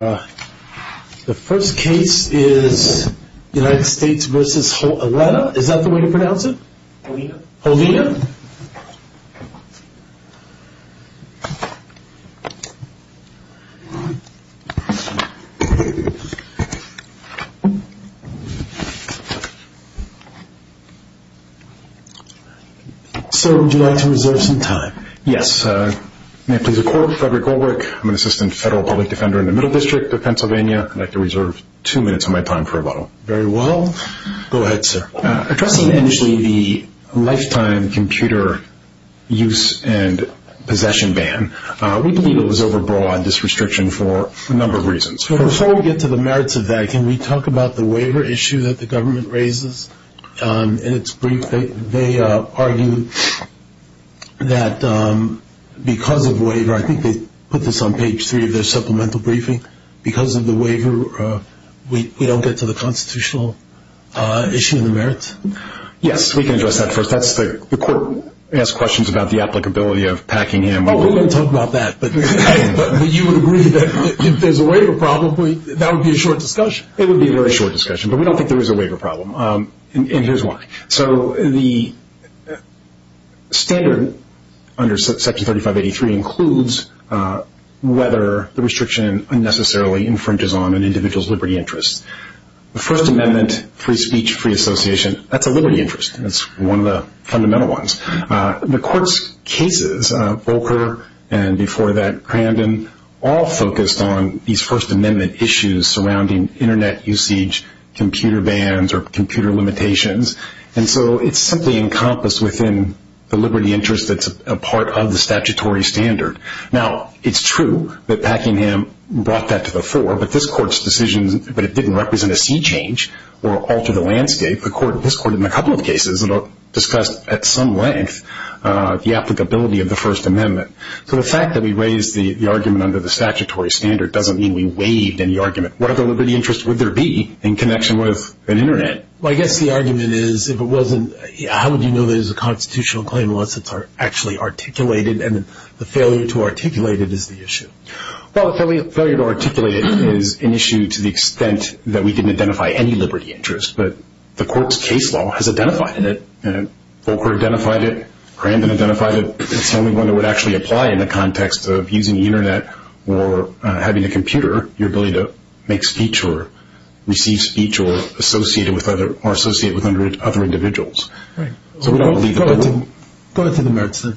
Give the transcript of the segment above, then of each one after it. The first case is United States v. Holena. Is that the way to pronounce it? Holena. Holena. Sir, would you like to reserve some time? Yes. May it please the court, Frederick Goldrick. I'm an assistant federal public defender in the Middle District of Pennsylvania. I'd like to reserve two minutes of my time for rebuttal. Very well. Go ahead, sir. Addressing initially the lifetime computer use and possession ban, we believe it was overbroad, this restriction, for a number of reasons. Before we get to the merits of that, can we talk about the waiver issue that the government raises? In its brief, they argue that because of waiver, I think they put this on page three of their supplemental briefing, because of the waiver, we don't get to the constitutional issue of the merits? Yes, we can address that first. The court asked questions about the applicability of Packingham. Oh, we won't talk about that, but you would agree that if there's a waiver problem, that would be a short discussion. It would be a very short discussion, but we don't think there is a waiver problem, and here's why. The standard under Section 3583 includes whether the restriction unnecessarily infringes on an individual's liberty interest. The First Amendment, free speech, free association, that's a liberty interest. That's one of the fundamental ones. The court's cases, Volcker and before that Crandon, all focused on these First Amendment issues surrounding internet usage, computer bans, or computer limitations, and so it's simply encompassed within the liberty interest that's a part of the statutory standard. Now, it's true that Packingham brought that to the fore, but this court's decision, but it didn't represent a sea change or alter the landscape. This court in a couple of cases discussed at some length the applicability of the First Amendment. So the fact that we raised the argument under the statutory standard doesn't mean we waived any argument. What other liberty interests would there be in connection with an internet? Well, I guess the argument is if it wasn't, how would you know there's a constitutional claim unless it's actually articulated, and the failure to articulate it is the issue. Well, the failure to articulate it is an issue to the extent that we didn't identify any liberty interest, but the court's case law has identified it. Volcker identified it. Crandon identified it. It's the only one that would actually apply in the context of using the internet or having a computer, your ability to make speech or receive speech or associate with other individuals. So we don't believe that. Go to the merits then.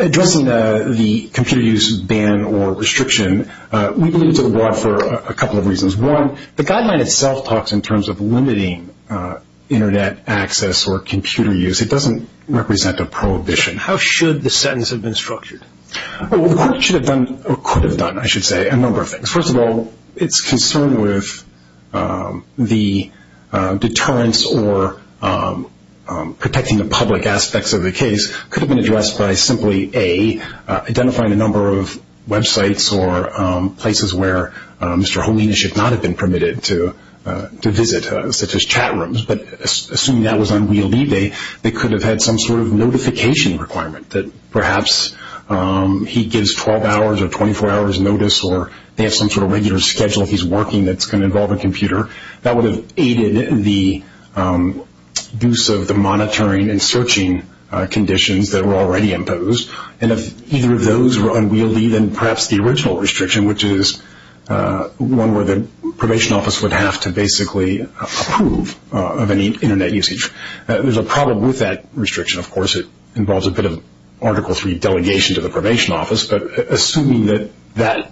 Addressing the computer use ban or restriction, we believe it's a law for a couple of reasons. One, the guideline itself talks in terms of limiting internet access or computer use. It doesn't represent a prohibition. How should the sentence have been structured? Well, the court should have done or could have done, I should say, a number of things. First of all, it's concerned with the deterrence or protecting the public aspects of the case could have been addressed by simply, A, not have been permitted to visit such as chat rooms. But assuming that was unwieldy, they could have had some sort of notification requirement that perhaps he gives 12 hours or 24 hours notice or they have some sort of regular schedule he's working that's going to involve a computer. That would have aided the use of the monitoring and searching conditions that were already imposed. And if either of those were unwieldy, then perhaps the original restriction, which is one where the probation office would have to basically approve of any internet usage. There's a problem with that restriction. Of course, it involves a bit of Article III delegation to the probation office, but assuming that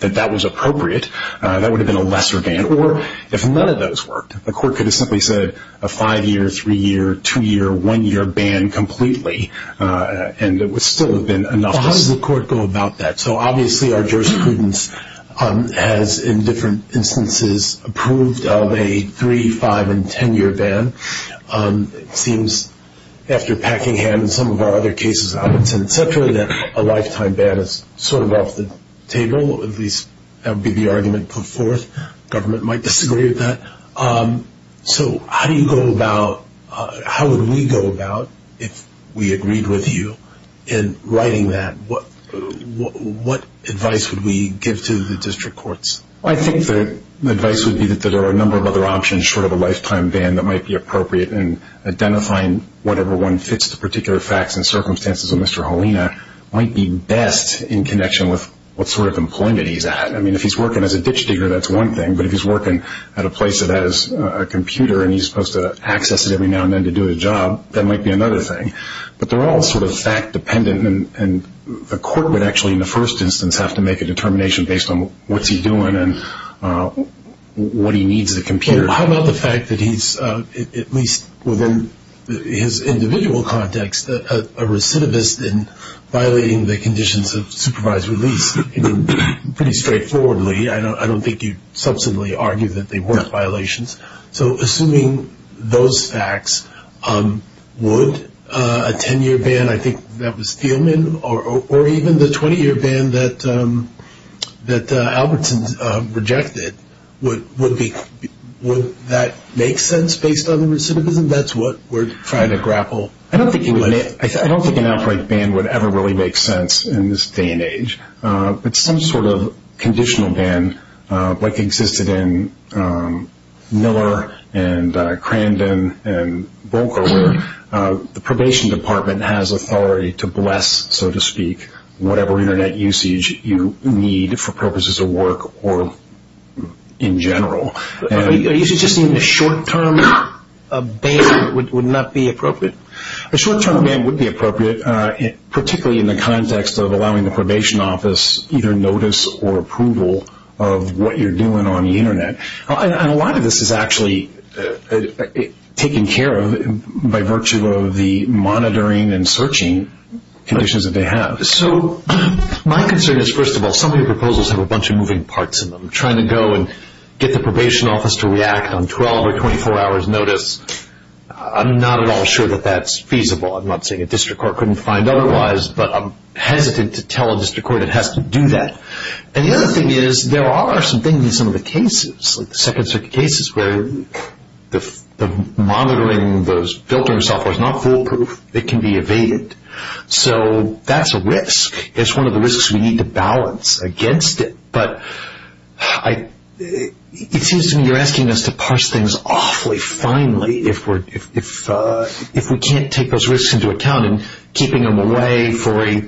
that was appropriate, that would have been a lesser ban. Or if none of those worked, the court could have simply said a five-year, three-year, two-year, one-year ban completely and it would still have been enough. How does the court go about that? So obviously our jurisprudence has in different instances approved of a three-, five-, and ten-year ban. It seems after Packingham and some of our other cases, Robinson, et cetera, that a lifetime ban is sort of off the table, at least that would be the argument put forth. Government might disagree with that. So how do you go about, how would we go about if we agreed with you in writing that? What advice would we give to the district courts? I think the advice would be that there are a number of other options short of a lifetime ban that might be appropriate in identifying whatever one fits the particular facts and circumstances of Mr. Halena might be best in connection with what sort of employment he's at. I mean, if he's working as a ditch digger, that's one thing, but if he's working at a place that has a computer and he's supposed to access it every now and then to do his job, that might be another thing. But they're all sort of fact-dependent, and the court would actually in the first instance have to make a determination based on what's he doing and what he needs the computer for. How about the fact that he's, at least within his individual context, a recidivist in violating the conditions of supervised release? Pretty straightforwardly, I don't think you'd substantially argue that they weren't violations. So assuming those facts, would a 10-year ban, I think that was Thielman, or even the 20-year ban that Albertson rejected, would that make sense based on the recidivism? That's what we're trying to grapple with. I don't think an outbreak ban would ever really make sense in this day and age. But some sort of conditional ban like existed in Miller and Crandon and Volcker where the probation department has authority to bless, so to speak, whatever Internet usage you need for purposes of work or in general. Are you suggesting a short-term ban would not be appropriate? A short-term ban would be appropriate, particularly in the context of allowing the probation office either notice or approval of what you're doing on the Internet. And a lot of this is actually taken care of by virtue of the monitoring and searching conditions that they have. So my concern is, first of all, some of your proposals have a bunch of moving parts in them. Trying to go and get the probation office to react on 12 or 24 hours notice, I'm not at all sure that that's feasible. I'm not saying a district court couldn't find otherwise, but I'm hesitant to tell a district court it has to do that. And the other thing is there are some things in some of the cases, like the Second Circuit cases where the monitoring of those filtering software is not foolproof. It can be evaded. So that's a risk. It's one of the risks we need to balance against it. But it seems to me you're asking us to parse things awfully finely. If we can't take those risks into account, keeping them away for a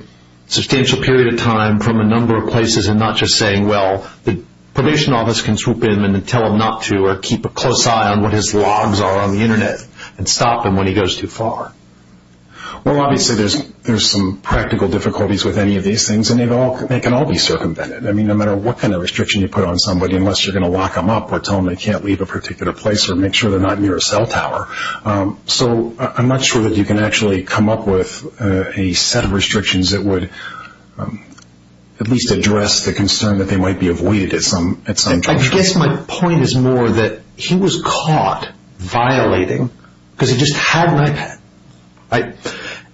substantial period of time from a number of places and not just saying, well, the probation office can swoop in and tell him not to or keep a close eye on what his logs are on the Internet and stop him when he goes too far. Well, obviously there's some practical difficulties with any of these things, and they can all be circumvented. I mean, no matter what kind of restriction you put on somebody, unless you're going to lock them up or tell them they can't leave a particular place or make sure they're not near a cell tower. So I'm not sure that you can actually come up with a set of restrictions that would at least address the concern that they might be avoided at some juncture. I guess my point is more that he was caught violating because he just had an iPad.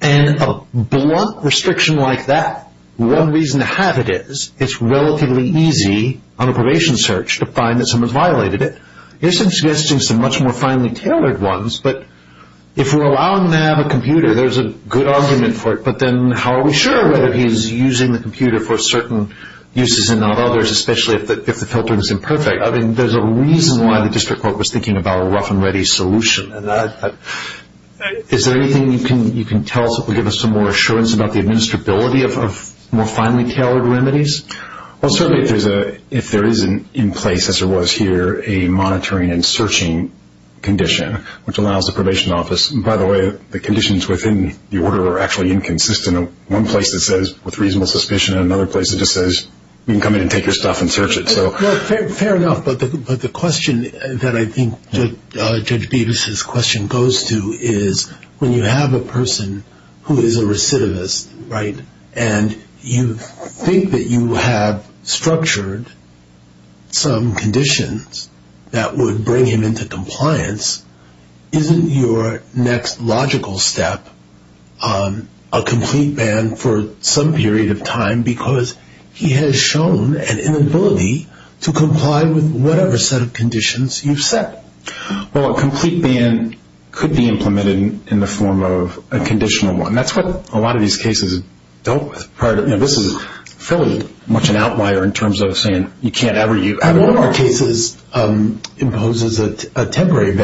And a blunt restriction like that, one reason to have it is it's relatively easy on a probation search to find that someone's violated it. You're suggesting some much more finely tailored ones, but if we're allowing them to have a computer, there's a good argument for it, but then how are we sure whether he's using the computer for certain uses and not others, especially if the filtering is imperfect? I mean, there's a reason why the district court was thinking about a rough-and-ready solution. Is there anything you can tell us that would give us some more assurance about the administrability of more finely tailored remedies? Well, certainly if there is in place, as there was here, a monitoring and searching condition, which allows the probation office, and by the way, the conditions within the order are actually inconsistent. One place it says, with reasonable suspicion, and another place it just says you can come in and take your stuff and search it. Fair enough, but the question that I think Judge Beavis' question goes to is when you have a person who is a recidivist, right, and you think that you have structured some conditions that would bring him into compliance, isn't your next logical step a complete ban for some period of time because he has shown an inability to comply with whatever set of conditions you've set? Well, a complete ban could be implemented in the form of a conditional one. That's what a lot of these cases dealt with. This is fairly much an outlier in terms of saying you can't ever use it. And one of our cases imposes a temporary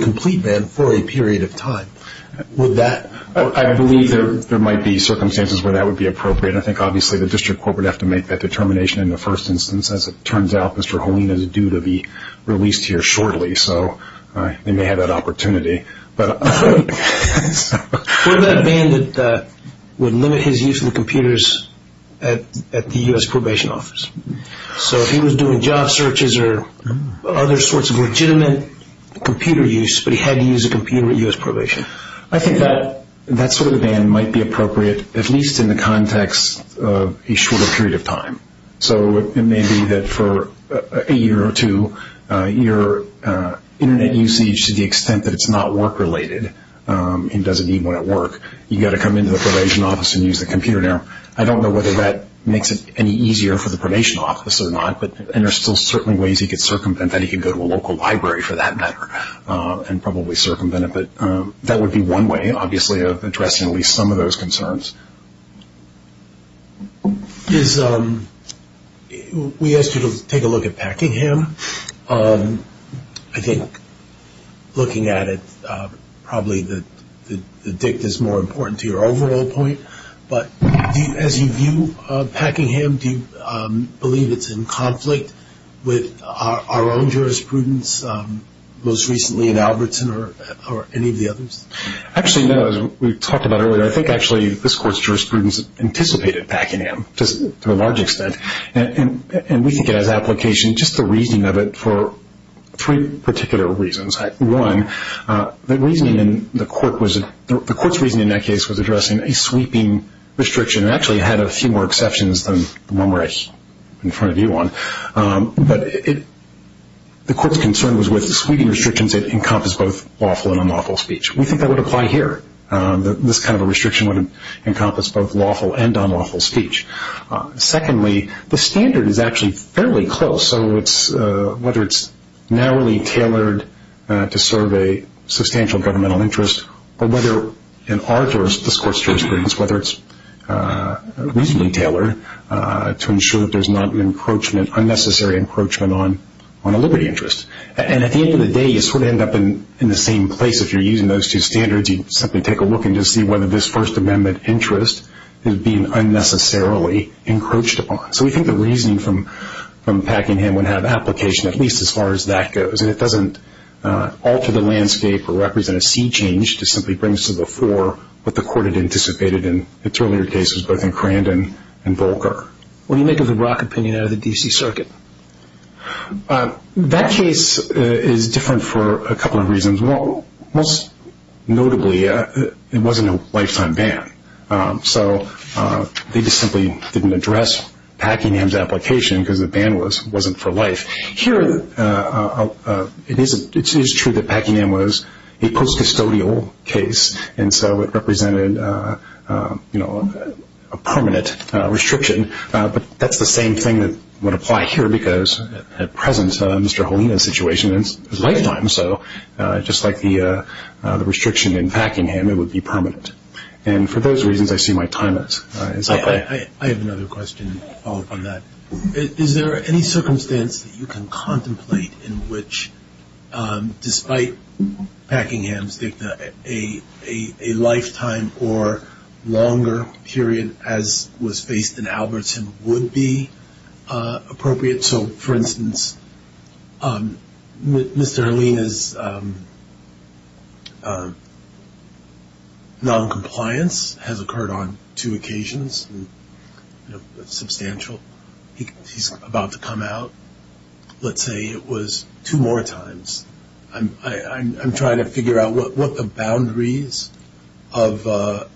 complete ban for a period of time. I believe there might be circumstances where that would be appropriate. I think obviously the district court would have to make that determination in the first instance. As it turns out, Mr. Holina is due to be released here shortly, so they may have that opportunity. What about a ban that would limit his use of the computers at the U.S. probation office? So if he was doing job searches or other sorts of legitimate computer use, but he had to use a computer at U.S. probation. I think that sort of ban might be appropriate, at least in the context of a shorter period of time. So it may be that for a year or two, your Internet usage to the extent that it's not work-related and doesn't even want to work, you've got to come into the probation office and use the computer there. I don't know whether that makes it any easier for the probation office or not, and there are still certain ways he could circumvent that. He could go to a local library, for that matter, and probably circumvent it. But that would be one way, obviously, of addressing at least some of those concerns. We asked you to take a look at Packingham. I think looking at it, probably the dict is more important to your overall point, but as you view Packingham, do you believe it's in conflict with our own jurisprudence, most recently in Albertson or any of the others? Actually, no. We talked about it earlier. I think, actually, this Court's jurisprudence anticipated Packingham to a large extent, and we think it has application, just the reasoning of it, for three particular reasons. One, the Court's reasoning in that case was addressing a sweeping restriction. It actually had a few more exceptions than the one we're in front of you on, but the Court's concern was with the sweeping restrictions that encompass both lawful and unlawful speech. We think that would apply here, that this kind of a restriction would encompass both lawful and unlawful speech. Secondly, the standard is actually fairly close, so whether it's narrowly tailored to serve a substantial governmental interest or whether in our discourse's jurisprudence, whether it's reasonably tailored to ensure that there's not an unnecessary encroachment on a liberty interest. And at the end of the day, you sort of end up in the same place. If you're using those two standards, you simply take a look and just see whether this First Amendment interest is being unnecessarily encroached upon. So we think the reasoning from Packingham would have application at least as far as that goes, and it doesn't alter the landscape or represent a sea change to simply bring us to the fore what the Court had anticipated in its earlier cases, both in Crandon and Volcker. What do you make of the Brock opinion out of the D.C. Circuit? That case is different for a couple of reasons. Most notably, it wasn't a lifetime ban, so they just simply didn't address Packingham's application because the ban wasn't for life. Here, it is true that Packingham was a post-custodial case, and so it represented a permanent restriction, but that's the same thing that would apply here because at present, Mr. Holina's situation is lifetime, so just like the restriction in Packingham, it would be permanent. And for those reasons, I see my time is up. I have another question to follow up on that. Is there any circumstance that you can contemplate in which, despite Packingham's dicta, a lifetime or longer period as was faced in Albertson would be appropriate? So, for instance, Mr. Holina's noncompliance has occurred on two occasions, substantial. He's about to come out, let's say it was two more times. I'm trying to figure out what the boundaries of the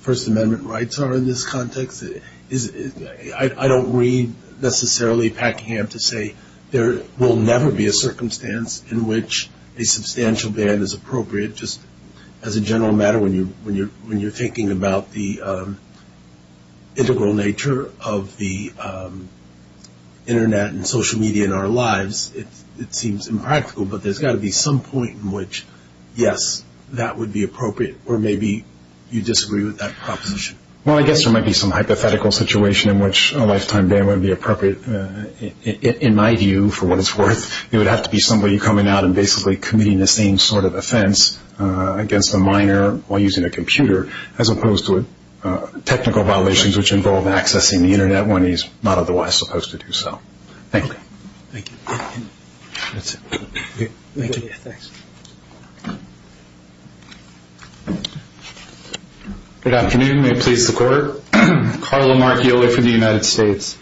First Amendment rights are in this context. I don't read necessarily Packingham to say there will never be a circumstance in which a substantial ban is appropriate. Just as a general matter, when you're thinking about the integral nature of the Internet and social media in our lives, it seems impractical, but there's got to be some point in which, yes, that would be appropriate, or maybe you disagree with that proposition. Well, I guess there might be some hypothetical situation in which a lifetime ban would be appropriate. In my view, for what it's worth, it would have to be somebody coming out and basically committing the same sort of offense against a minor while using a computer as opposed to technical violations which involve accessing the Internet when he's not otherwise supposed to do so. Thank you. Thank you. That's it. Thank you. Thanks. Good afternoon. May it please the Court. Carlo Marchioli from the United States.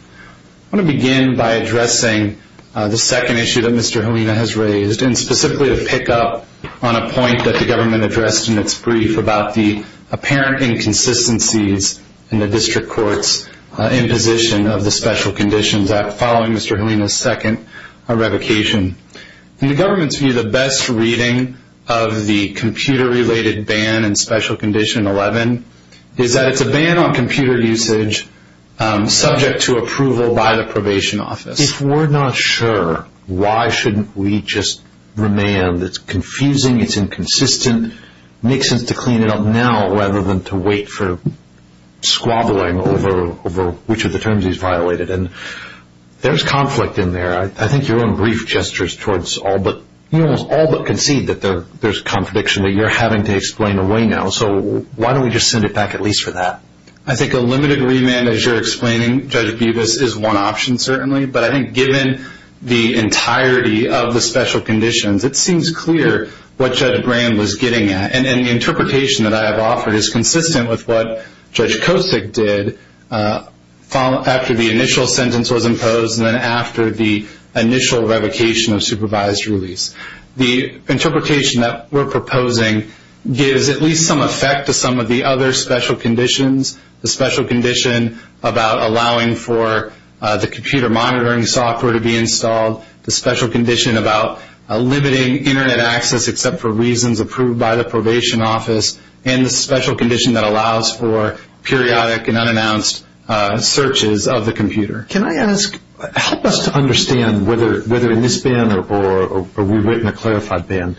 I want to begin by addressing the second issue that Mr. Holina has raised, and specifically to pick up on a point that the government addressed in its brief about the apparent inconsistencies in the district court's imposition of the Special Conditions Act following Mr. Holina's second revocation. In the government's view, the best reading of the computer-related ban in Special Condition 11 is that it's a ban on computer usage subject to approval by the probation office. If we're not sure, why shouldn't we just remand? It's confusing. It's inconsistent. It makes sense to clean it up now rather than to wait for squabbling over which of the terms he's violated. There's conflict in there. I think your own brief gestures towards all but concede that there's a contradiction that you're having to explain away now. So why don't we just send it back at least for that? I think a limited remand, as you're explaining, Judge Bubas, is one option certainly. But I think given the entirety of the special conditions, it seems clear what Judge Graham was getting at. And the interpretation that I have offered is consistent with what Judge Kosick did after the initial sentence was imposed and then after the initial revocation of supervised release. The interpretation that we're proposing gives at least some effect to some of the other special conditions, the special condition about allowing for the computer monitoring software to be installed, the special condition about limiting Internet access except for reasons approved by the probation office, and the special condition that allows for periodic and unannounced searches of the computer. Can I ask, help us to understand whether in this ban or we wait in a clarified ban,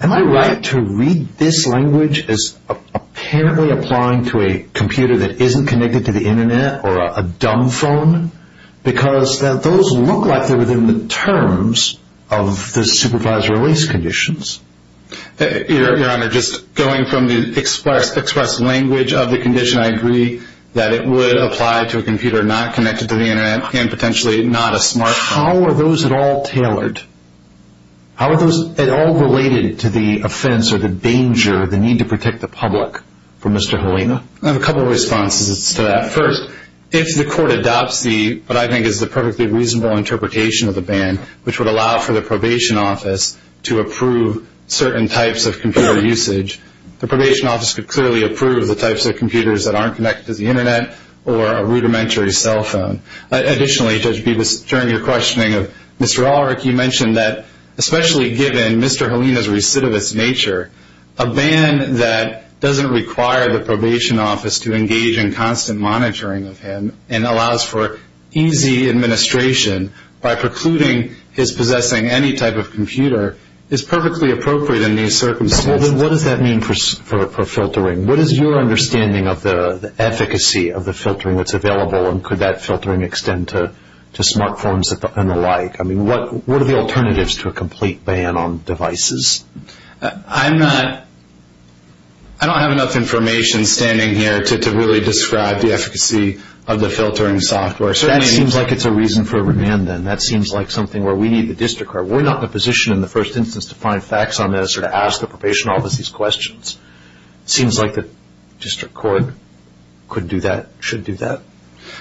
am I right to read this language as apparently applying to a computer that isn't connected to the Internet or a dumb phone? Because those look like they're within the terms of the supervised release conditions. Your Honor, just going from the express language of the condition, I agree that it would apply to a computer not connected to the Internet and potentially not a smart phone. How are those at all tailored? How are those at all related to the offense or the danger, the need to protect the public from Mr. Helena? I have a couple of responses to that. First, if the court adopts what I think is the perfectly reasonable interpretation of the ban, which would allow for the probation office to approve certain types of computer usage, the probation office could clearly approve the types of computers that aren't connected to the Internet or a rudimentary cell phone. Additionally, Judge Bevis, during your questioning of Mr. Ulrich, you mentioned that especially given Mr. Helena's recidivist nature, a ban that doesn't require the probation office to engage in constant monitoring of him and allows for easy administration by precluding his possessing any type of computer is perfectly appropriate in these circumstances. What does that mean for filtering? What is your understanding of the efficacy of the filtering that's available and could that filtering extend to smart phones and the like? What are the alternatives to a complete ban on devices? I don't have enough information standing here to really describe the efficacy of the filtering software. That seems like it's a reason for remand then. That seems like something where we need the district court. We're not in a position in the first instance to find facts on this or to ask the probation office these questions. It seems like the district court could do that, should do that.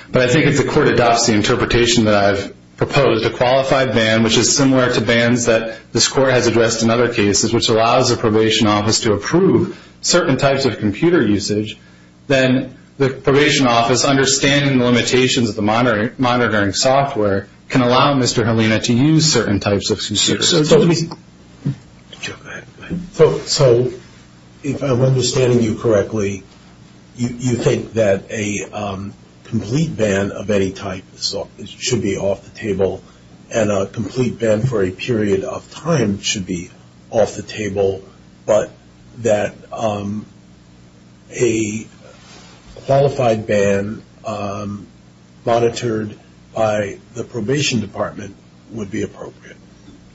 But I think if the court adopts the interpretation that I've proposed, a qualified ban which is similar to bans that this court has addressed in other cases, which allows the probation office to approve certain types of computer usage, then the probation office, understanding the limitations of the monitoring software, can allow Mr. Helena to use certain types of computers. So if I'm understanding you correctly, you think that a complete ban of any type should be off the table and a complete ban for a period of time should be off the table, but that a qualified ban monitored by the probation department would be appropriate?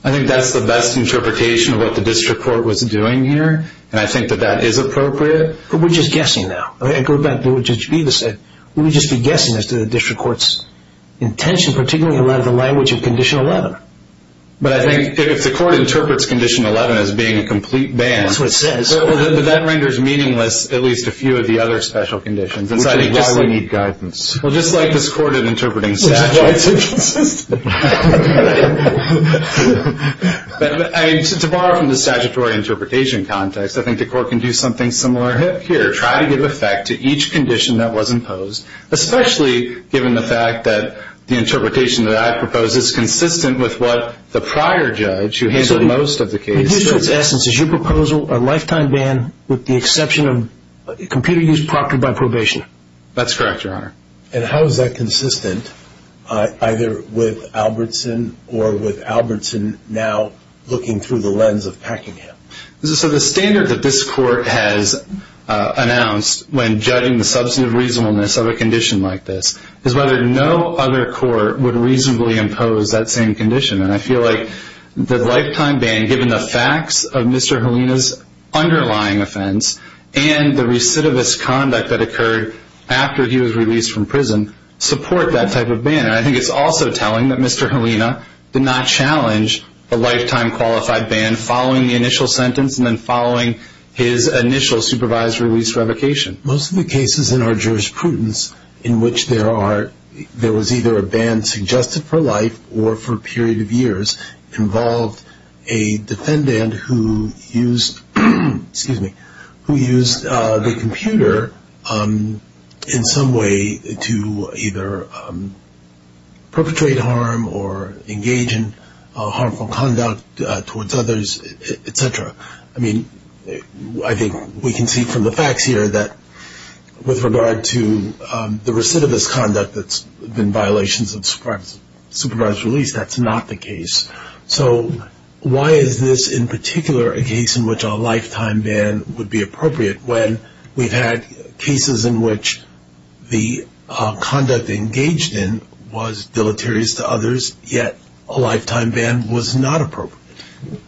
I think that's the best interpretation of what the district court was doing here, and I think that that is appropriate. But we're just guessing now. I go back to what Judge Bevis said. We would just be guessing as to the district court's intention, particularly in light of the language of Condition 11. But I think if the court interprets Condition 11 as being a complete ban, that renders meaningless at least a few of the other special conditions. Which is why we need guidance. Well, just like this court in interpreting statutes. Which is why it's inconsistent. To borrow from the statutory interpretation context, I think the court can do something similar here, try to give effect to each condition that was imposed, especially given the fact that the interpretation that I proposed is consistent with what the prior judge who handled most of the case said. So the district's essence is your proposal, a lifetime ban with the exception of computer use proctored by probation? That's correct, Your Honor. And how is that consistent either with Albertson or with Albertson now looking through the lens of Packingham? So the standard that this court has announced when judging the substantive reasonableness of a condition like this is whether no other court would reasonably impose that same condition. And I feel like the lifetime ban, given the facts of Mr. Helena's underlying offense and the recidivist conduct that occurred after he was released from prison, support that type of ban. And I think it's also telling that Mr. Helena did not challenge a lifetime qualified ban following the initial sentence and then following his initial supervised release revocation. Most of the cases in our jurisprudence in which there was either a ban suggested for life or for a period of years involved a defendant who used the computer in some way to either perpetrate harm or engage in harmful conduct towards others, et cetera. I mean, I think we can see from the facts here that with regard to the recidivist conduct that's been violations of supervised release, that's not the case. So why is this in particular a case in which a lifetime ban would be appropriate when we've had cases in which the conduct engaged in was deleterious to others yet a lifetime ban was not appropriate?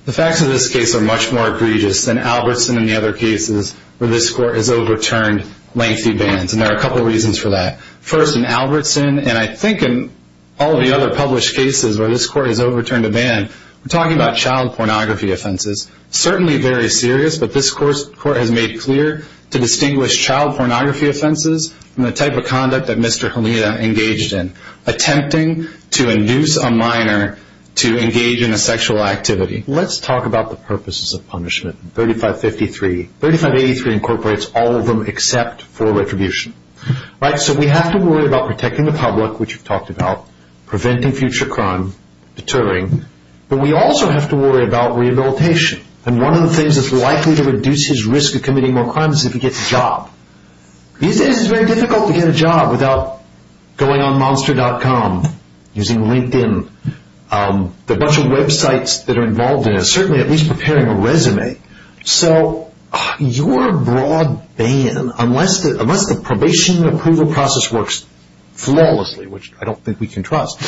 The facts of this case are much more egregious than Albertson and the other cases where this court has overturned lengthy bans. And there are a couple of reasons for that. First, in Albertson, and I think in all the other published cases where this court has overturned a ban, we're talking about child pornography offenses. Certainly very serious, but this court has made clear to distinguish child pornography offenses from the type of conduct that Mr. Halita engaged in, attempting to induce a minor to engage in a sexual activity. Let's talk about the purposes of punishment, 3553. 3583 incorporates all of them except for retribution. So we have to worry about protecting the public, which we've talked about, preventing future crime, deterring. But we also have to worry about rehabilitation. And one of the things that's likely to reduce his risk of committing more crimes is if he gets a job. These days it's very difficult to get a job without going on monster.com, using LinkedIn, the bunch of websites that are involved in it, certainly at least preparing a resume. So your broad ban, unless the probation approval process works flawlessly, which I don't think we can trust,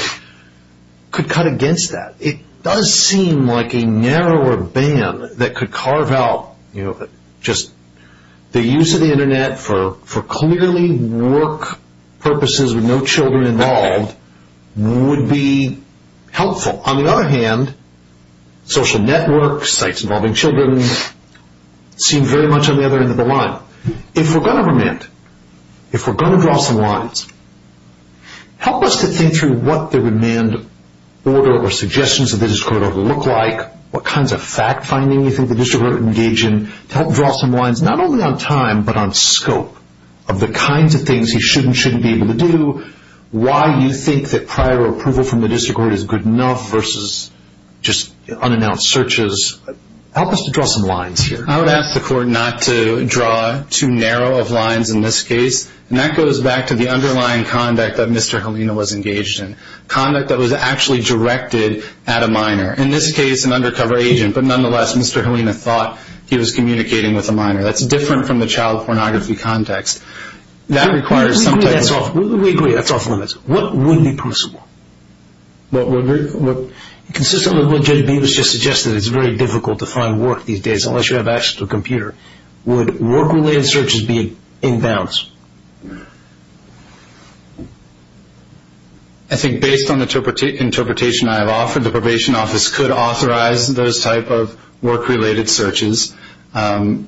could cut against that. It does seem like a narrower ban that could carve out just the use of the Internet for clearly work purposes with no children involved would be helpful. On the other hand, social networks, sites involving children, seem very much on the other end of the line. Now, if we're going to remand, if we're going to draw some lines, help us to think through what the remand order or suggestions of the district court order look like, what kinds of fact-finding you think the district court would engage in, to help draw some lines not only on time but on scope of the kinds of things he should and shouldn't be able to do, why you think that prior approval from the district court is good enough versus just unannounced searches. Help us to draw some lines here. I would ask the court not to draw too narrow of lines in this case, and that goes back to the underlying conduct that Mr. Halina was engaged in, conduct that was actually directed at a minor, in this case an undercover agent, but nonetheless Mr. Halina thought he was communicating with a minor. That's different from the child pornography context. We agree that's off limits. What would be possible? Consistent with what J.D. Bevis just suggested, it's very difficult to find work these days unless you have access to a computer. Would work-related searches be in bounds? I think based on the interpretation I have offered, the probation office could authorize those type of work-related searches. Again,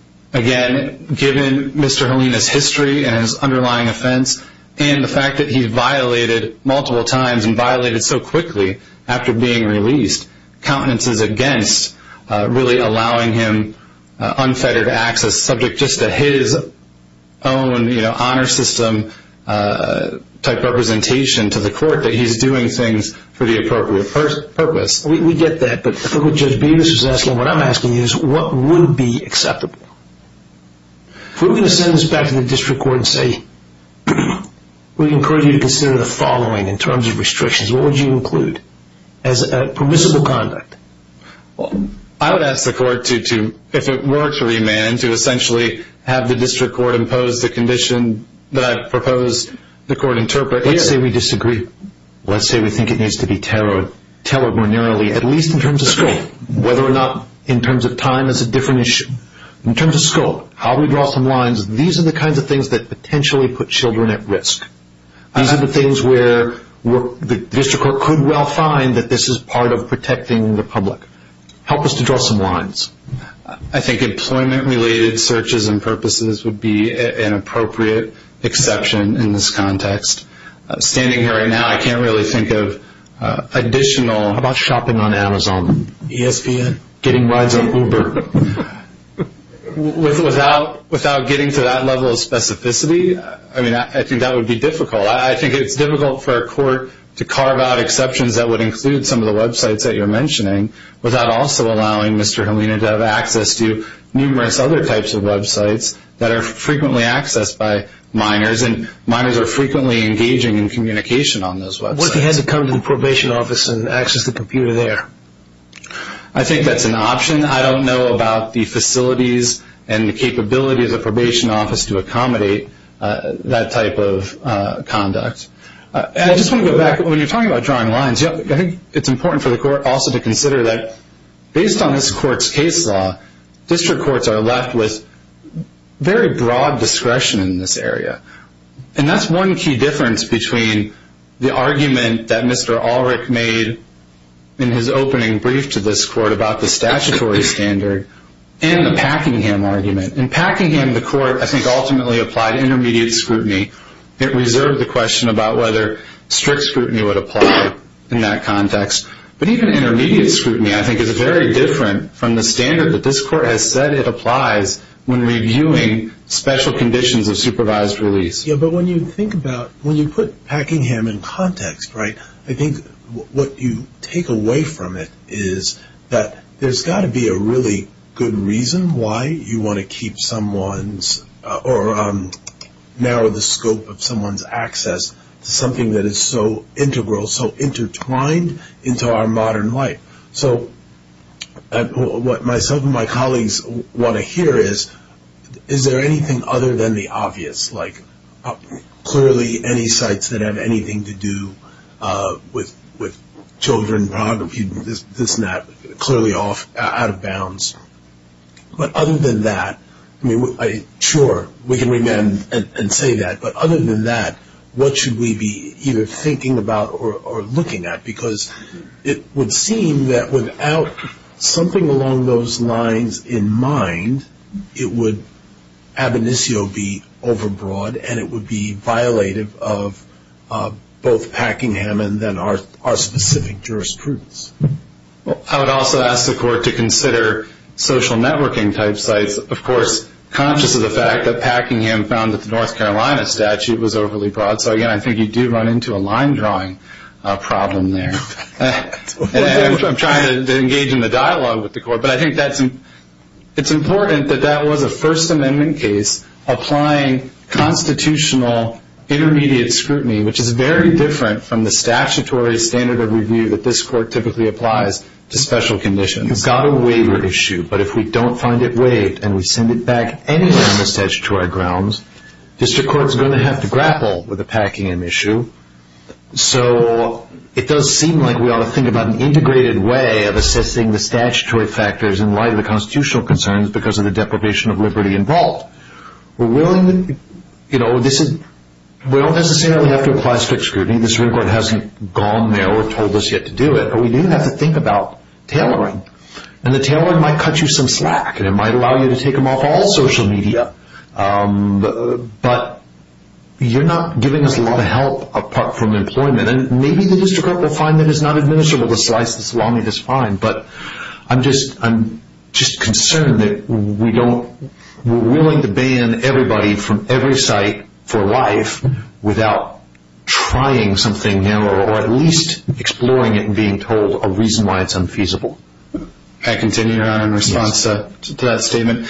given Mr. Halina's history and his underlying offense and the fact that he violated multiple times and violated so quickly after being released, countenances against really allowing him unfettered access, subject just to his own honor system-type representation to the court, that he's doing things for the appropriate purpose. We get that, but what I'm asking you is what would be acceptable? If we were going to send this back to the district court and say, we encourage you to consider the following in terms of restrictions, what would you include? Permissible conduct. I would ask the court, if it were to remand, to essentially have the district court impose the condition that I've proposed the court interpret. Let's say we disagree. Let's say we think it needs to be tailored more narrowly, at least in terms of scope. Whether or not in terms of time is a different issue. In terms of scope, I'll redraw some lines. These are the kinds of things that potentially put children at risk. These are the things where the district court could well find that this is part of protecting the public. Help us to draw some lines. I think employment-related searches and purposes would be an appropriate exception in this context. Standing here right now, I can't really think of additional. How about shopping on Amazon? ESPN. Getting rides on Uber. Without getting to that level of specificity, I think that would be difficult. I think it's difficult for a court to carve out exceptions that would include some of the websites that you're mentioning without also allowing Mr. Helina to have access to numerous other types of websites that are frequently accessed by minors, and minors are frequently engaging in communication on those websites. What if he had to come to the probation office and access the computer there? I think that's an option. I don't know about the facilities and the capability of the probation office to accommodate that type of conduct. I just want to go back. When you're talking about drawing lines, I think it's important for the court also to consider that, based on this court's case law, district courts are left with very broad discretion in this area. That's one key difference between the argument that Mr. Ulrich made in his opening brief to this court about the statutory standard and the Packingham argument. In Packingham, the court, I think, ultimately applied intermediate scrutiny. It reserved the question about whether strict scrutiny would apply in that context. But even intermediate scrutiny, I think, is very different from the standard that this court has said it applies when reviewing special conditions of supervised release. When you put Packingham in context, I think what you take away from it is that there's got to be a really good reason why you want to narrow the scope of someone's access to something that is so integral, so intertwined into our modern life. So what myself and my colleagues want to hear is, is there anything other than the obvious, like clearly any sites that have anything to do with children, pornography, this and that, clearly out of bounds? But other than that, sure, we can remand and say that. But other than that, what should we be either thinking about or looking at? Because it would seem that without something along those lines in mind, it would ab initio be overbroad and it would be violative of both Packingham and then our specific jurisprudence. I would also ask the court to consider social networking type sites, of course, conscious of the fact that Packingham found that the North Carolina statute was overly broad. So again, I think you do run into a line drawing problem there. I'm trying to engage in the dialogue with the court, but I think it's important that that was a First Amendment case applying constitutional intermediate scrutiny, which is very different from the statutory standard of review that this court typically applies to special conditions. We've got a waiver issue, but if we don't find it waived and we send it back anywhere on the statutory grounds, district court is going to have to grapple with the Packingham issue. So it does seem like we ought to think about an integrated way of assessing the statutory factors in light of the constitutional concerns because of the deprivation of liberty involved. We don't necessarily have to apply strict scrutiny. The Supreme Court hasn't gone there or told us yet to do it, but we do have to think about tailoring. The tailoring might cut you some slack and it might allow you to take them off all social media, but you're not giving us a lot of help apart from employment. Maybe the district court will find that it's not administrable to slice the salami this fine, but I'm just concerned that we're willing to ban everybody from every site for life without trying something new or at least exploring it and being told a reason why it's unfeasible. Can I continue, Your Honor, in response to that statement?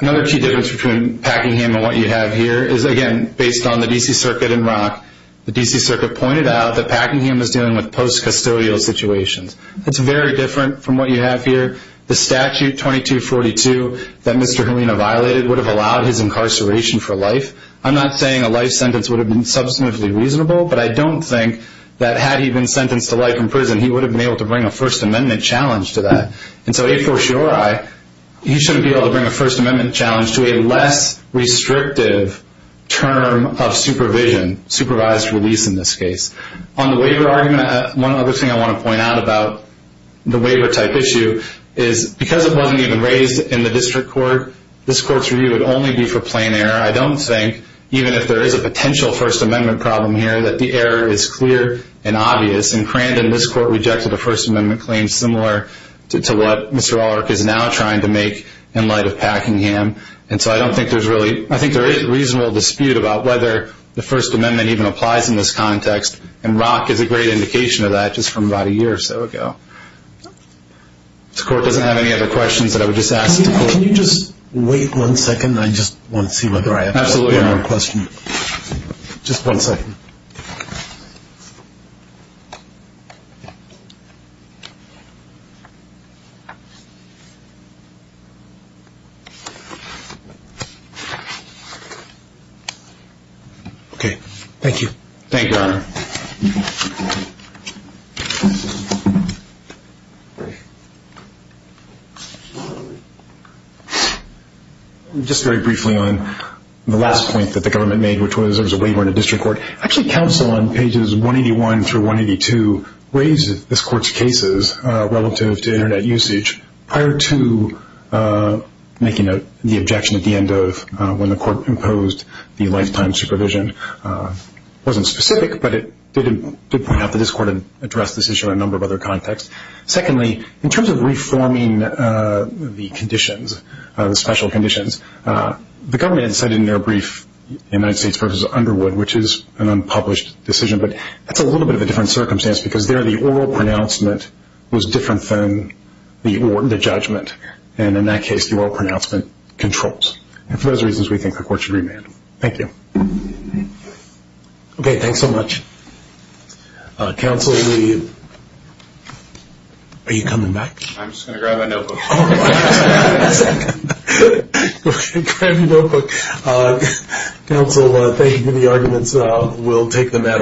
Another key difference between Packingham and what you have here is, again, based on the D.C. Circuit in Rock, the D.C. Circuit pointed out that Packingham is dealing with post-custodial situations. It's very different from what you have here. The statute 2242 that Mr. Helena violated would have allowed his incarceration for life. I'm not saying a life sentence would have been substantively reasonable, but I don't think that had he been sentenced to life in prison, he would have been able to bring a First Amendment challenge to that. And so a fortiori, he shouldn't be able to bring a First Amendment challenge to a less restrictive term of supervision, supervised release in this case. On the waiver argument, one other thing I want to point out about the waiver-type issue is, because it wasn't even raised in the district court, this court's review would only be for plain error. I don't think, even if there is a potential First Amendment problem here, that the error is clear and obvious. And Crandon, this court, rejected a First Amendment claim similar to what Mr. Ulrich is now trying to make in light of Packingham. And so I don't think there's really – I think there is reasonable dispute about whether the First Amendment even applies in this context, and Rock is a great indication of that just from about a year or so ago. If the court doesn't have any other questions that I would just ask the court. Can you just wait one second? I just want to see whether I have time for one more question. Absolutely, Your Honor. Just one second. Thank you. Thank you, Your Honor. Just very briefly on the last point that the government made, which was there was a waiver in the district court. Actually, counsel on pages 181 through 182 raised this court's cases relative to Internet usage prior to making the objection at the end of when the court imposed the lifetime supervision. It wasn't specific, but it did point out that this court addressed this issue in a number of other contexts. Secondly, in terms of reforming the conditions, the special conditions, the government had said in their brief the United States v. Underwood, which is an unpublished decision, but that's a little bit of a different circumstance because there the oral pronouncement was different than the judgment. And in that case, the oral pronouncement controls. And for those reasons, we think the court should remand. Thank you. Okay, thanks so much. Counsel, are you coming back? I'm just going to grab my notebook. Okay, grab your notebook. Counsel, thank you for the arguments. We'll take the matter on.